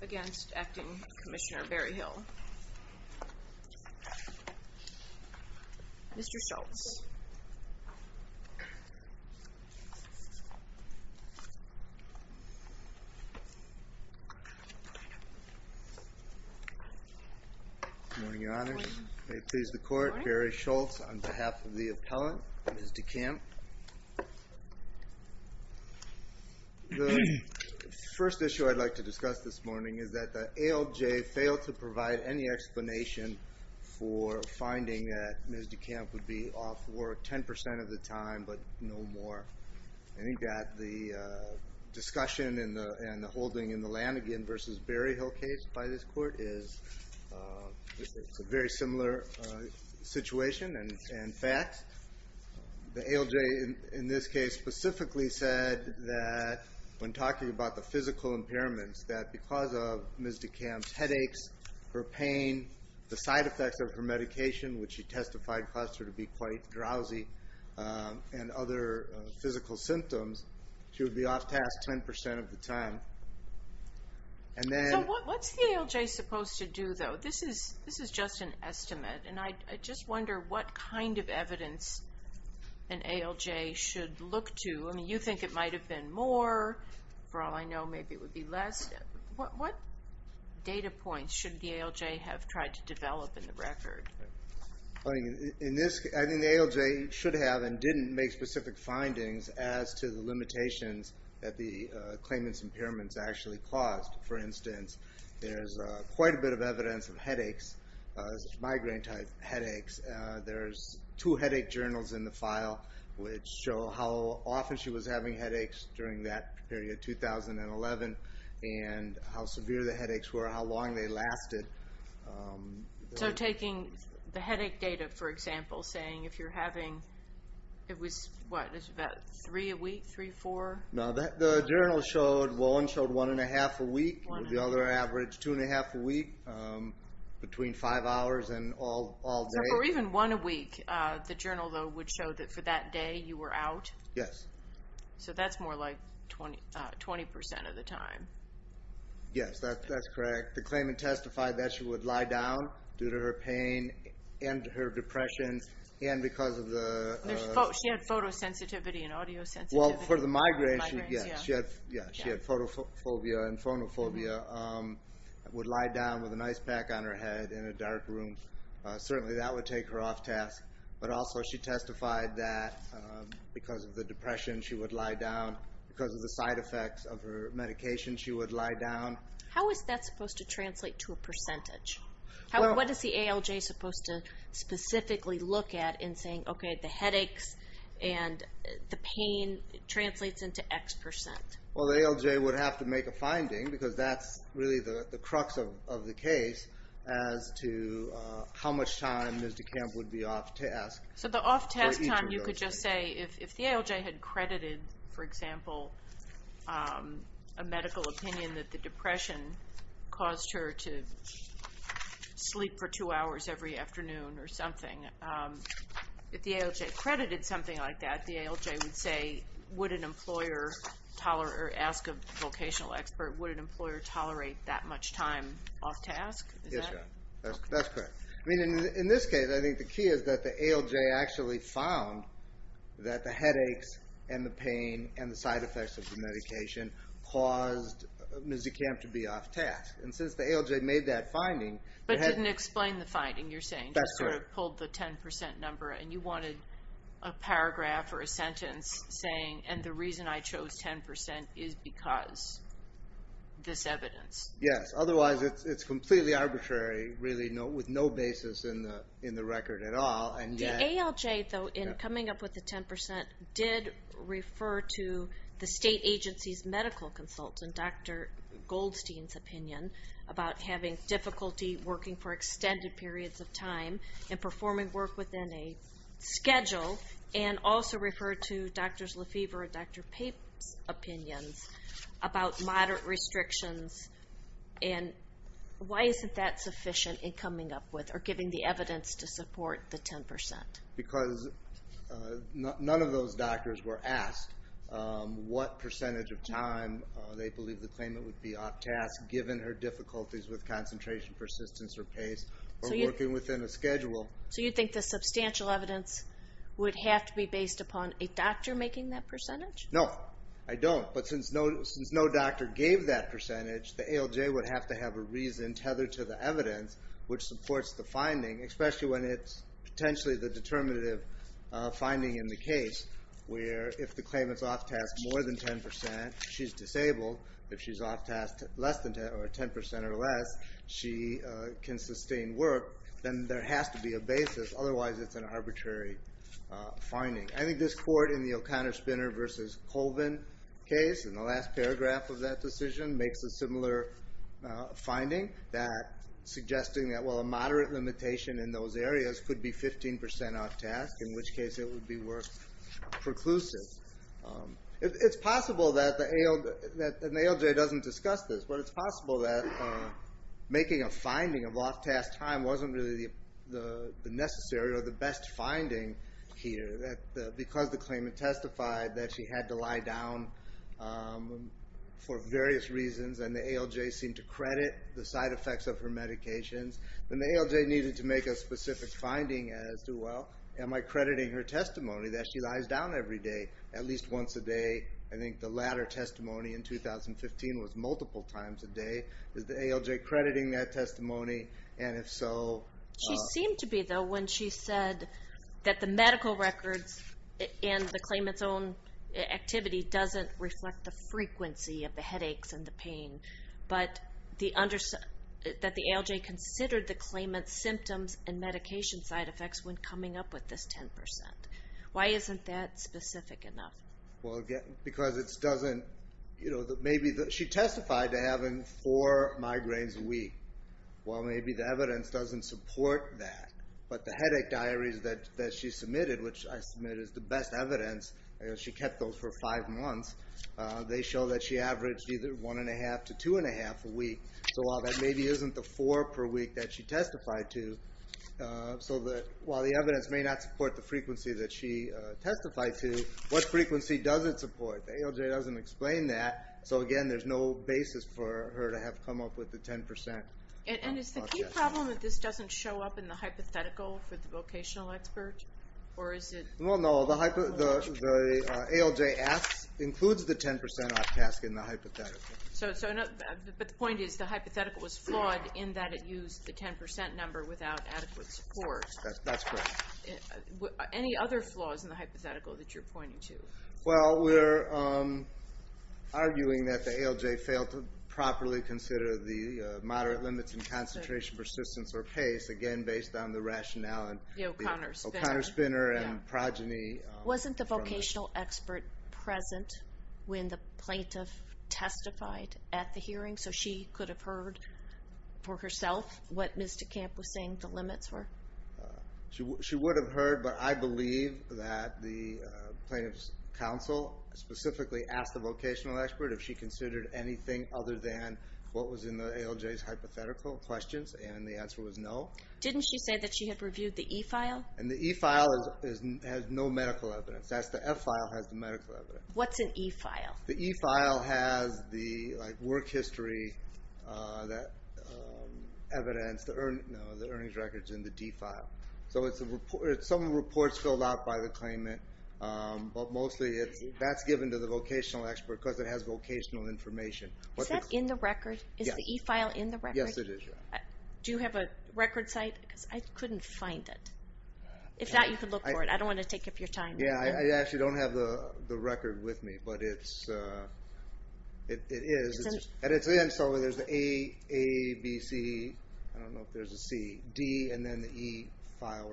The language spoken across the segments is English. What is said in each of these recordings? DeCamp v. Commissioner Berryhill Mr. Schultz. Good morning, Your Honor. May it please the Court. Berry Schultz on behalf of the appellant. Ms. DeCamp. The first issue I'd like to discuss this morning is that the ALJ failed to provide any explanation for finding that Ms. DeCamp would be off work 10% of the time but no more. I think that the discussion and the holding in the Lanigan v. Berryhill case by this Court is a very similar situation and fact. The ALJ in this case specifically said that when talking about the physical impairments that because of Ms. DeCamp's headaches, her pain, the side effects of her medication, which she testified caused her to be quite drowsy, and other physical symptoms, she would be off task 10% of the time. And then... So what's the ALJ supposed to do though? This is just an estimate and I just wonder what kind of evidence an ALJ should look to. You think it might have been more, for all I know maybe it would be less. What data points should the ALJ have tried to develop in the record? I think the ALJ should have and didn't make specific findings as to the limitations that the claimant's impairments actually caused. For instance, there's quite a bit of evidence of headaches, migraine-type headaches. There's two headache journals in the file which show how often she was having headaches during that period, 2011, and how severe the headaches were, how long they lasted. So taking the headache data, for example, saying if you're having, it was what, it was about three a week, three, four? No, the journal showed, one showed one and a half a week, the other averaged two and a half a week, between five hours and all day. So for even one a week, the journal though would show that for that day you were out? Yes. So that's more like 20% of the time. Yes, that's correct. The claimant testified that she would lie down due to her pain and her depression and because of the... She had photosensitivity and audiosensitivity. Well, for the migraine, she had photophobia and phonophobia, would lie down with an ice pack on her head in a dark room. Certainly that would take her off task, but also she testified that because of the depression she would lie down, because of the side effects of her medication she would lie down. How is that supposed to translate to a percentage? What is the ALJ supposed to specifically look at in saying, okay, the headaches and the pain translates into X percent? Well, the ALJ would have to make a finding because that's really the crux of the case as to how much time Ms. DeCamp would be off task. So the off task time you could just say, if the ALJ had credited, for example, a medical If the ALJ credited something like that, the ALJ would say, would an employer ask a vocational expert, would an employer tolerate that much time off task? Yes, that's correct. In this case, I think the key is that the ALJ actually found that the headaches and the pain and the side effects of the medication caused Ms. DeCamp to be off task. And since the ALJ made that finding... But didn't explain the finding, you're saying. That's correct. You would have pulled the 10% number and you wanted a paragraph or a sentence saying, and the reason I chose 10% is because this evidence. Yes, otherwise it's completely arbitrary, really, with no basis in the record at all. The ALJ, though, in coming up with the 10% did refer to the state agency's medical consultant, Dr. Goldstein's opinion about having difficulty working for extended periods of time and performing work within a schedule, and also referred to Drs. Lefevre and Dr. Pape's opinions about moderate restrictions. And why isn't that sufficient in coming up with or giving the evidence to support the 10%? Because none of those doctors were asked what percentage of time they believed the claimant would be off task, given her difficulties with concentration, persistence, or pace, or working within a schedule. So you think the substantial evidence would have to be based upon a doctor making that percentage? No, I don't. But since no doctor gave that percentage, the ALJ would have to have a reason tethered to the evidence, which supports the finding, especially when it's potentially the determinative finding in the case, where if the claimant's off task more than 10%, she's disabled. If she's off task less than 10%, or 10% or less, she can sustain work. Then there has to be a basis, otherwise it's an arbitrary finding. I think this court in the O'Connor-Spinner v. Colvin case, in the last paragraph of that suggesting that a moderate limitation in those areas could be 15% off task, in which case it would be worth preclusive. It's possible that the ALJ doesn't discuss this, but it's possible that making a finding of off task time wasn't really the necessary or the best finding here. Because the claimant testified that she had to lie down for various reasons, and the ALJ seemed to credit the side effects of her medications. Then the ALJ needed to make a specific finding as to, well, am I crediting her testimony that she lies down every day, at least once a day? I think the latter testimony in 2015 was multiple times a day. Is the ALJ crediting that testimony? And if so... She seemed to be, though, when she said that the medical records and the claimant's own activity doesn't reflect the frequency of the headaches and the pain, but that the ALJ considered the claimant's symptoms and medication side effects when coming up with this 10%. Why isn't that specific enough? Because it doesn't... Maybe she testified to having four migraines a week. Well, maybe the evidence doesn't support that. But the headache diaries that she submitted, which I submit is the best evidence, she kept those for five months, they show that she averaged either one and a half to two and a half a week. So while that maybe isn't the four per week that she testified to, while the evidence may not support the frequency that she testified to, what frequency does it support? The ALJ doesn't explain that, so again, there's no basis for her to have come up with the 10%. And is the key problem that this doesn't show up in the hypothetical for the vocational expert? Well, no, the ALJ includes the 10% off task in the hypothetical. But the point is the hypothetical was flawed in that it used the 10% number without adequate support. That's correct. Any other flaws in the hypothetical that you're pointing to? Well, we're arguing that the ALJ failed to properly consider the moderate limits in concentration, persistence, or pace, again, based on the rationale. The O'Connor spinner. The O'Connor spinner and progeny. Wasn't the vocational expert present when the plaintiff testified at the hearing, so she could have heard for herself what Ms. DeCamp was saying the limits were? She would have heard, but I believe that the plaintiff's counsel specifically asked the vocational expert if she considered anything other than what was in the ALJ's hypothetical questions, and the answer was no. Didn't she say that she had reviewed the E-file? And the E-file has no medical evidence. The F-file has the medical evidence. What's an E-file? The E-file has the work history evidence, the earnings records, and the D-file. So it's some reports filled out by the claimant, but mostly that's given to the vocational expert because it has vocational information. Is that in the record? Yes. Is the E-file in the record? Yes, it is. Do you have a record site? Because I couldn't find it. If not, you can look for it. I don't want to take up your time. Yeah, I actually don't have the record with me, but it is. And it's in, so there's the A, A, B, C, I don't know if there's a C, D, and then the E-file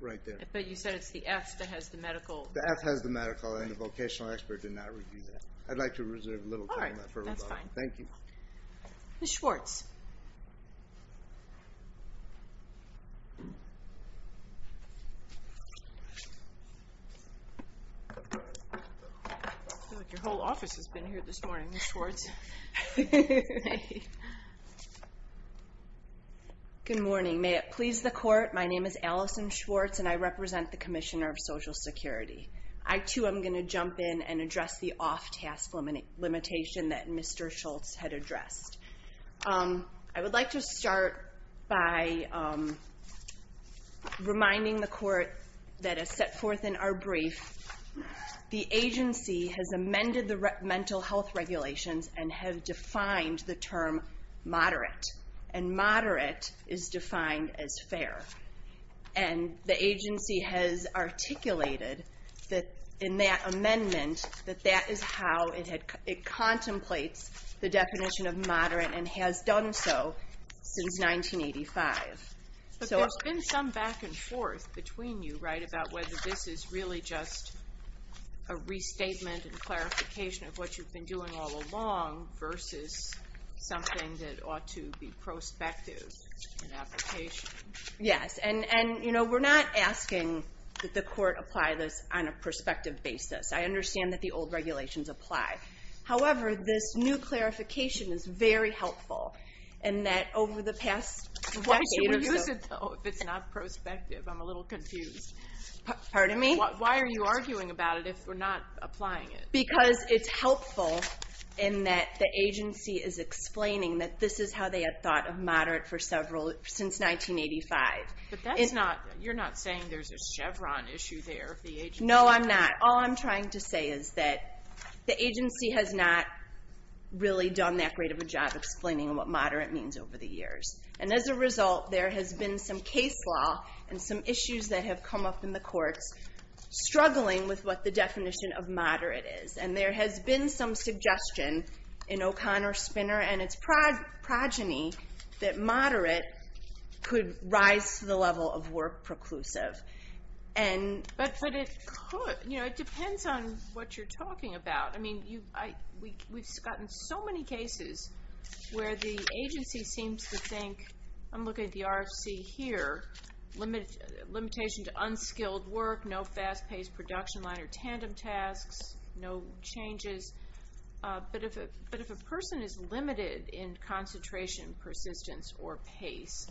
right there. But you said it's the F that has the medical. The F has the medical, and the vocational expert did not review that. I'd like to reserve a little time for rebuttal. All right, that's fine. Thank you. Ms. Schwartz. I feel like your whole office has been here this morning, Ms. Schwartz. Good morning. May it please the Court, my name is Allison Schwartz, and I represent the Commissioner of Social Security. I, too, am going to jump in and address the off-task limitation that Mr. Schultz had addressed. I would like to start by reminding the Court that, as set forth in our brief, the agency has amended the mental health regulations and have defined the term moderate. And moderate is defined as fair. And the agency has articulated in that amendment that that is how it contemplates the definition of moderate and has done so since 1985. But there's been some back and forth between you, right, about whether this is really just a restatement and clarification of what you've been doing all along versus something that ought to be prospective in application. Yes, and, you know, we're not asking that the Court apply this on a prospective basis. I understand that the old regulations apply. However, this new clarification is very helpful in that over the past decade or so... Why should we use it, though, if it's not prospective? I'm a little confused. Pardon me? Why are you arguing about it if we're not applying it? Because it's helpful in that the agency is explaining that this is how they have thought of moderate since 1985. But you're not saying there's a Chevron issue there? No, I'm not. All I'm trying to say is that the agency has not really done that great of a job explaining what moderate means over the years. And as a result, there has been some case law and some issues that have come up in the courts struggling with what the definition of moderate is. And there has been some suggestion in O'Connor-Spinner and its progeny that moderate could rise to the level of work preclusive. But it could. You know, it depends on what you're talking about. I mean, we've gotten so many cases where the agency seems to think, I'm looking at the RFC here, limitation to unskilled work, no fast-paced production line or tandem tasks, no changes. But if a person is limited in concentration, persistence, or pace,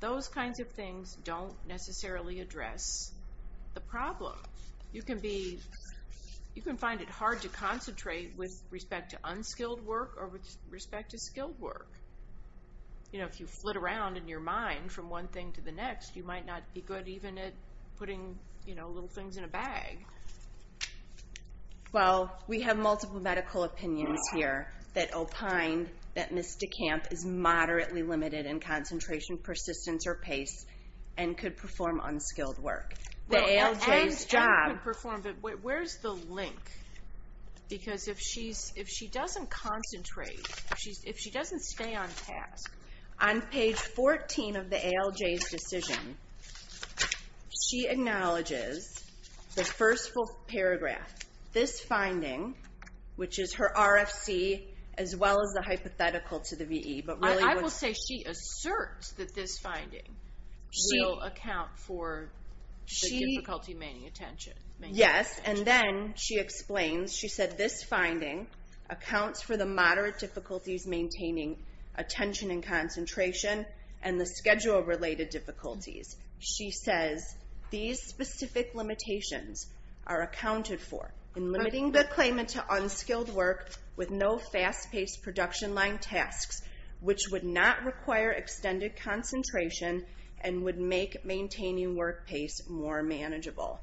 those kinds of things don't necessarily address the problem. You can find it hard to concentrate with respect to unskilled work or with respect to skilled work. You know, if you flit around in your mind from one thing to the next, you might not be good even at putting little things in a bag. Well, we have multiple medical opinions here that opine that Ms. DeCamp is moderately limited in concentration, persistence, or pace and could perform unskilled work. The ALJ's job... Where's the link? Because if she doesn't concentrate, if she doesn't stay on task, on page 14 of the ALJ's decision, she acknowledges the first full paragraph, this finding, which is her RFC, as well as the hypothetical to the VE. I will say she asserts that this finding will account for the difficulty maintaining attention. Yes, and then she explains, she said, this finding accounts for the moderate difficulties maintaining attention and concentration and the schedule-related difficulties. She says these specific limitations are accounted for in limiting the claimant to unskilled work with no fast-paced production line tasks, which would not require extended concentration and would make maintaining work pace more manageable.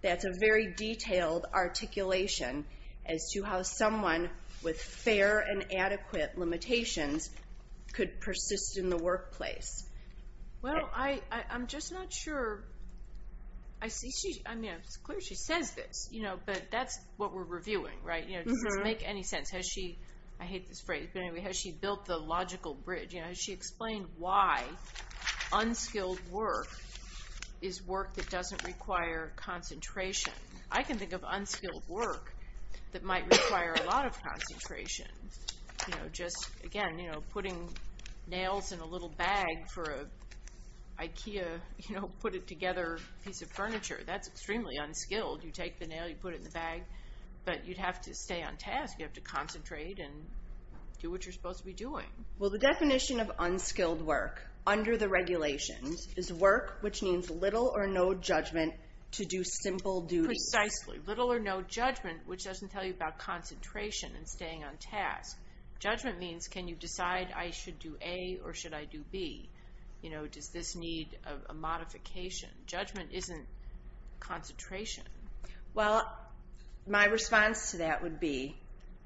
That's a very detailed articulation as to how someone with fair and adequate limitations could persist in the workplace. Well, I'm just not sure... I mean, it's clear she says this, but that's what we're reviewing, right? Does this make any sense? I hate this phrase, but anyway, has she built the logical bridge? Has she explained why unskilled work is work that doesn't require concentration? I can think of unskilled work that might require a lot of concentration. You know, just, again, you know, putting nails in a little bag for an IKEA, you know, put-it-together piece of furniture. That's extremely unskilled. You take the nail, you put it in the bag, but you'd have to stay on task. You'd have to concentrate and do what you're supposed to be doing. Well, the definition of unskilled work under the regulations is work which means little or no judgment to do simple duties. Precisely. Little or no judgment, which doesn't tell you about concentration and staying on task. Judgment means can you decide I should do A or should I do B? You know, does this need a modification? Judgment isn't concentration. Well, my response to that would be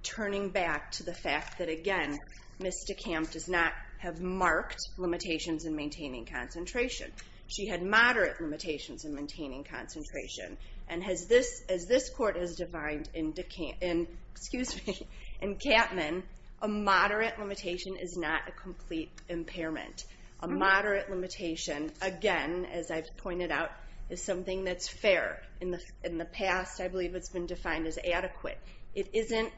turning back to the fact that, again, Ms. DeCamp does not have marked limitations in maintaining concentration. She had moderate limitations in maintaining concentration. And as this court has defined in DeCamp, excuse me, in Capman, a moderate limitation is not a complete impairment. A moderate limitation, again, as I've pointed out, is something that's fair. In the past, I believe it's been defined as adequate. It isn't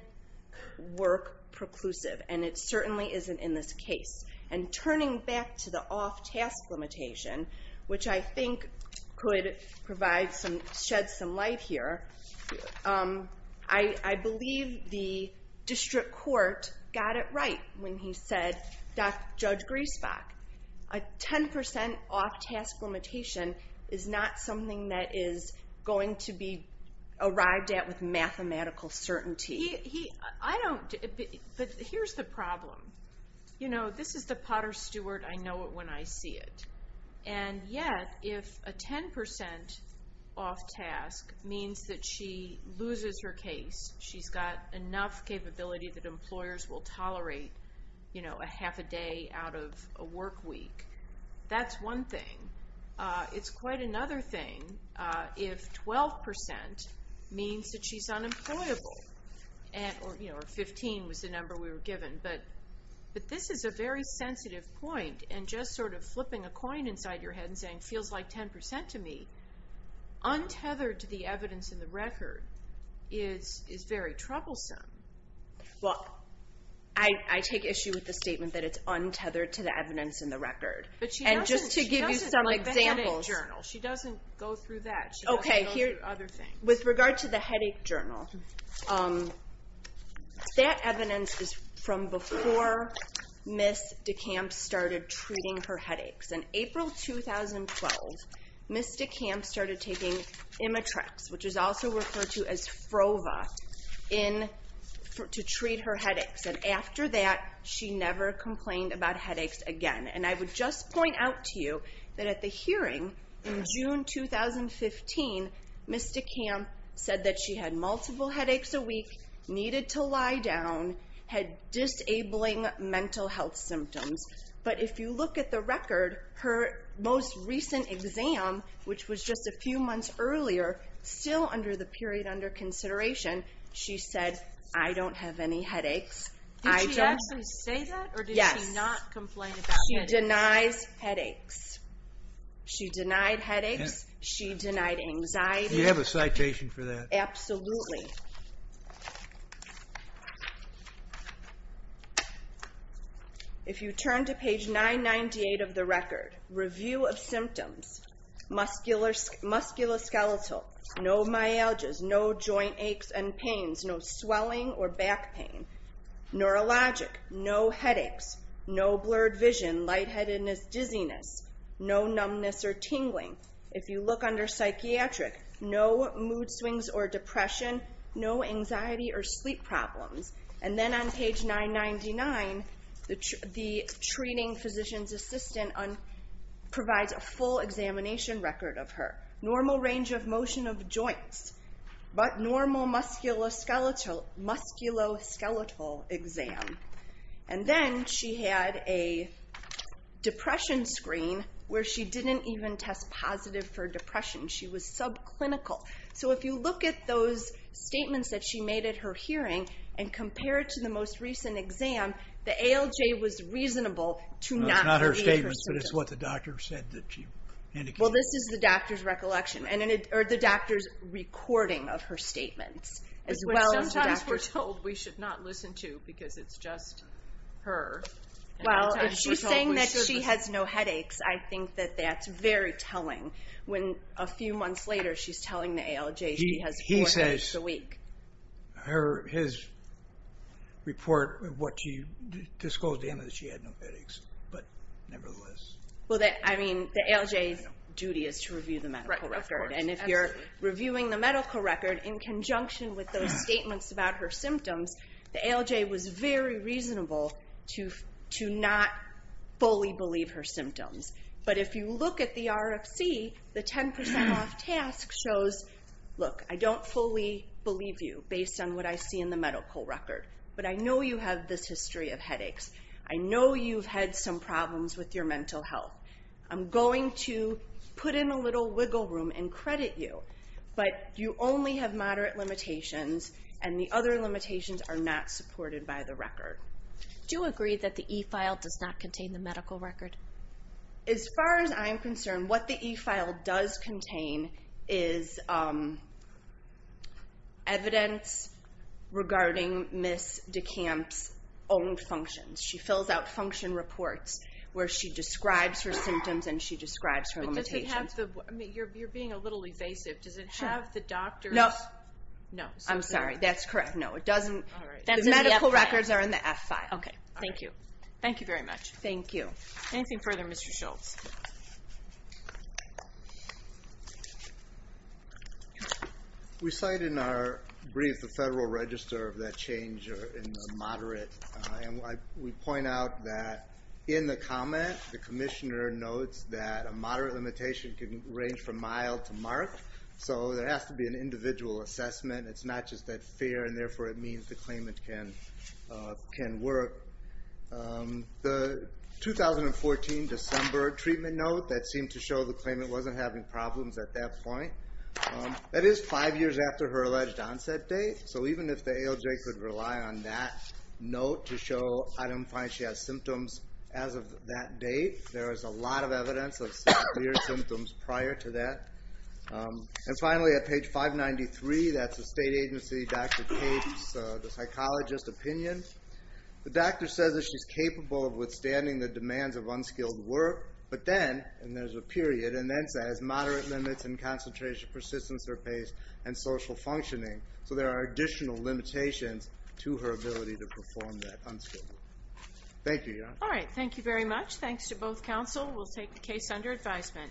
work-preclusive, and it certainly isn't in this case. And turning back to the off-task limitation, which I think could shed some light here, I believe the district court got it right when he said, Judge Griesbach, a 10% off-task limitation is not something that is going to be arrived at with mathematical certainty. I don't... But here's the problem. You know, this is the Potter Stewart, I know it when I see it. And yet, if a 10% off-task means that she loses her case, she's got enough capability that employers will tolerate, you know, a half a day out of a work week, that's one thing. It's quite another thing if 12% means that she's unemployable. Or, you know, 15 was the number we were given. But this is a very sensitive point, and just sort of flipping a coin inside your head and saying, feels like 10% to me, untethered to the evidence in the record is very troublesome. Well, I take issue with the statement that it's untethered to the evidence in the record. But she doesn't... And just to give you some examples... Like the headache journal. She doesn't go through that. Okay, here... She doesn't go through other things. With regard to the headache journal, that evidence is from before Ms. DeCamp started treating her headaches. In April 2012, Ms. DeCamp started taking Imitrex, which is also referred to as Frova, to treat her headaches. And after that, she never complained about headaches again. And I would just point out to you Ms. DeCamp said that she had multiple headaches, multiple headaches a week, needed to lie down, had disabling mental health symptoms. But if you look at the record, her most recent exam, which was just a few months earlier, still under the period under consideration, she said, I don't have any headaches. Did she actually say that? Yes. Or did she not complain about headaches? She denies headaches. She denied headaches. She denied anxiety. Do you have a citation for that? Absolutely. If you turn to page 998 of the record, review of symptoms, musculoskeletal, no myalgias, no joint aches and pains, no swelling or back pain, neurologic, no headaches, no blurred vision, lightheadedness, dizziness, no numbness or tingling. If you look under psychiatric, no mood swings or depression, no anxiety or sleep problems. And then on page 999, the treating physician's assistant provides a full examination record of her. Normal range of motion of joints, but normal musculoskeletal exam. And then she had a depression screen where she didn't even test positive for depression. She was subclinical. So if you look at those statements that she made at her hearing and compare it to the most recent exam, the ALJ was reasonable to not read her symptoms. It's not her statements, but it's what the doctor said that she indicated. Well, this is the doctor's recollection, or the doctor's recording of her statements. Which sometimes we're told we should not listen to because it's just her. Well, if she's saying that she has no headaches, I think that that's very telling. When a few months later she's telling the ALJ she has four headaches a week. He says his report disclosed to him that she had no headaches, but nevertheless. Well, I mean, the ALJ's duty is to review the medical record. And if you're reviewing the medical record in conjunction with those statements about her symptoms, the ALJ was very reasonable to not fully believe her symptoms. But if you look at the RFC, the 10% off task shows, look, I don't fully believe you based on what I see in the medical record, but I know you have this history of headaches. I know you've had some problems with your mental health. I'm going to put in a little wiggle room and credit you, but you only have moderate limitations and the other limitations are not supported by the record. Do you agree that the E-file does not contain the medical record? As far as I'm concerned, what the E-file does contain is evidence regarding Ms. DeCamp's own functions. She fills out function reports where she describes her symptoms and she describes her limitations. You're being a little evasive. Does it have the doctor's notes? I'm sorry, that's correct. No, it doesn't. The medical records are in the F-file. Okay, thank you. Thank you very much. Thank you. Anything further, Mr. Schultz? We cite in our brief the Federal Register of that change in the moderate. We point out that in the comment, the commissioner notes that a moderate limitation can range from mild to mark, so there has to be an individual assessment. It's not just that fair, and therefore it means the claimant can work. The 2014 December treatment note that seemed to show the claimant wasn't having problems at that point, that is five years after her alleged onset date, so even if the ALJ could rely on that note to show I don't find she has symptoms as of that date, there is a lot of evidence of clear symptoms prior to that. And finally, at page 593, that's the state agency doctor's case, the psychologist's opinion. The doctor says that she's capable of withstanding the demands of unskilled work, but then, and there's a period, and then says moderate limits in concentration, persistence or pace, and social functioning, so there are additional limitations to her ability to perform that unskilled work. Thank you, Your Honor. All right, thank you very much. Thanks to both counsel. We'll take the case under advisement. Thank you.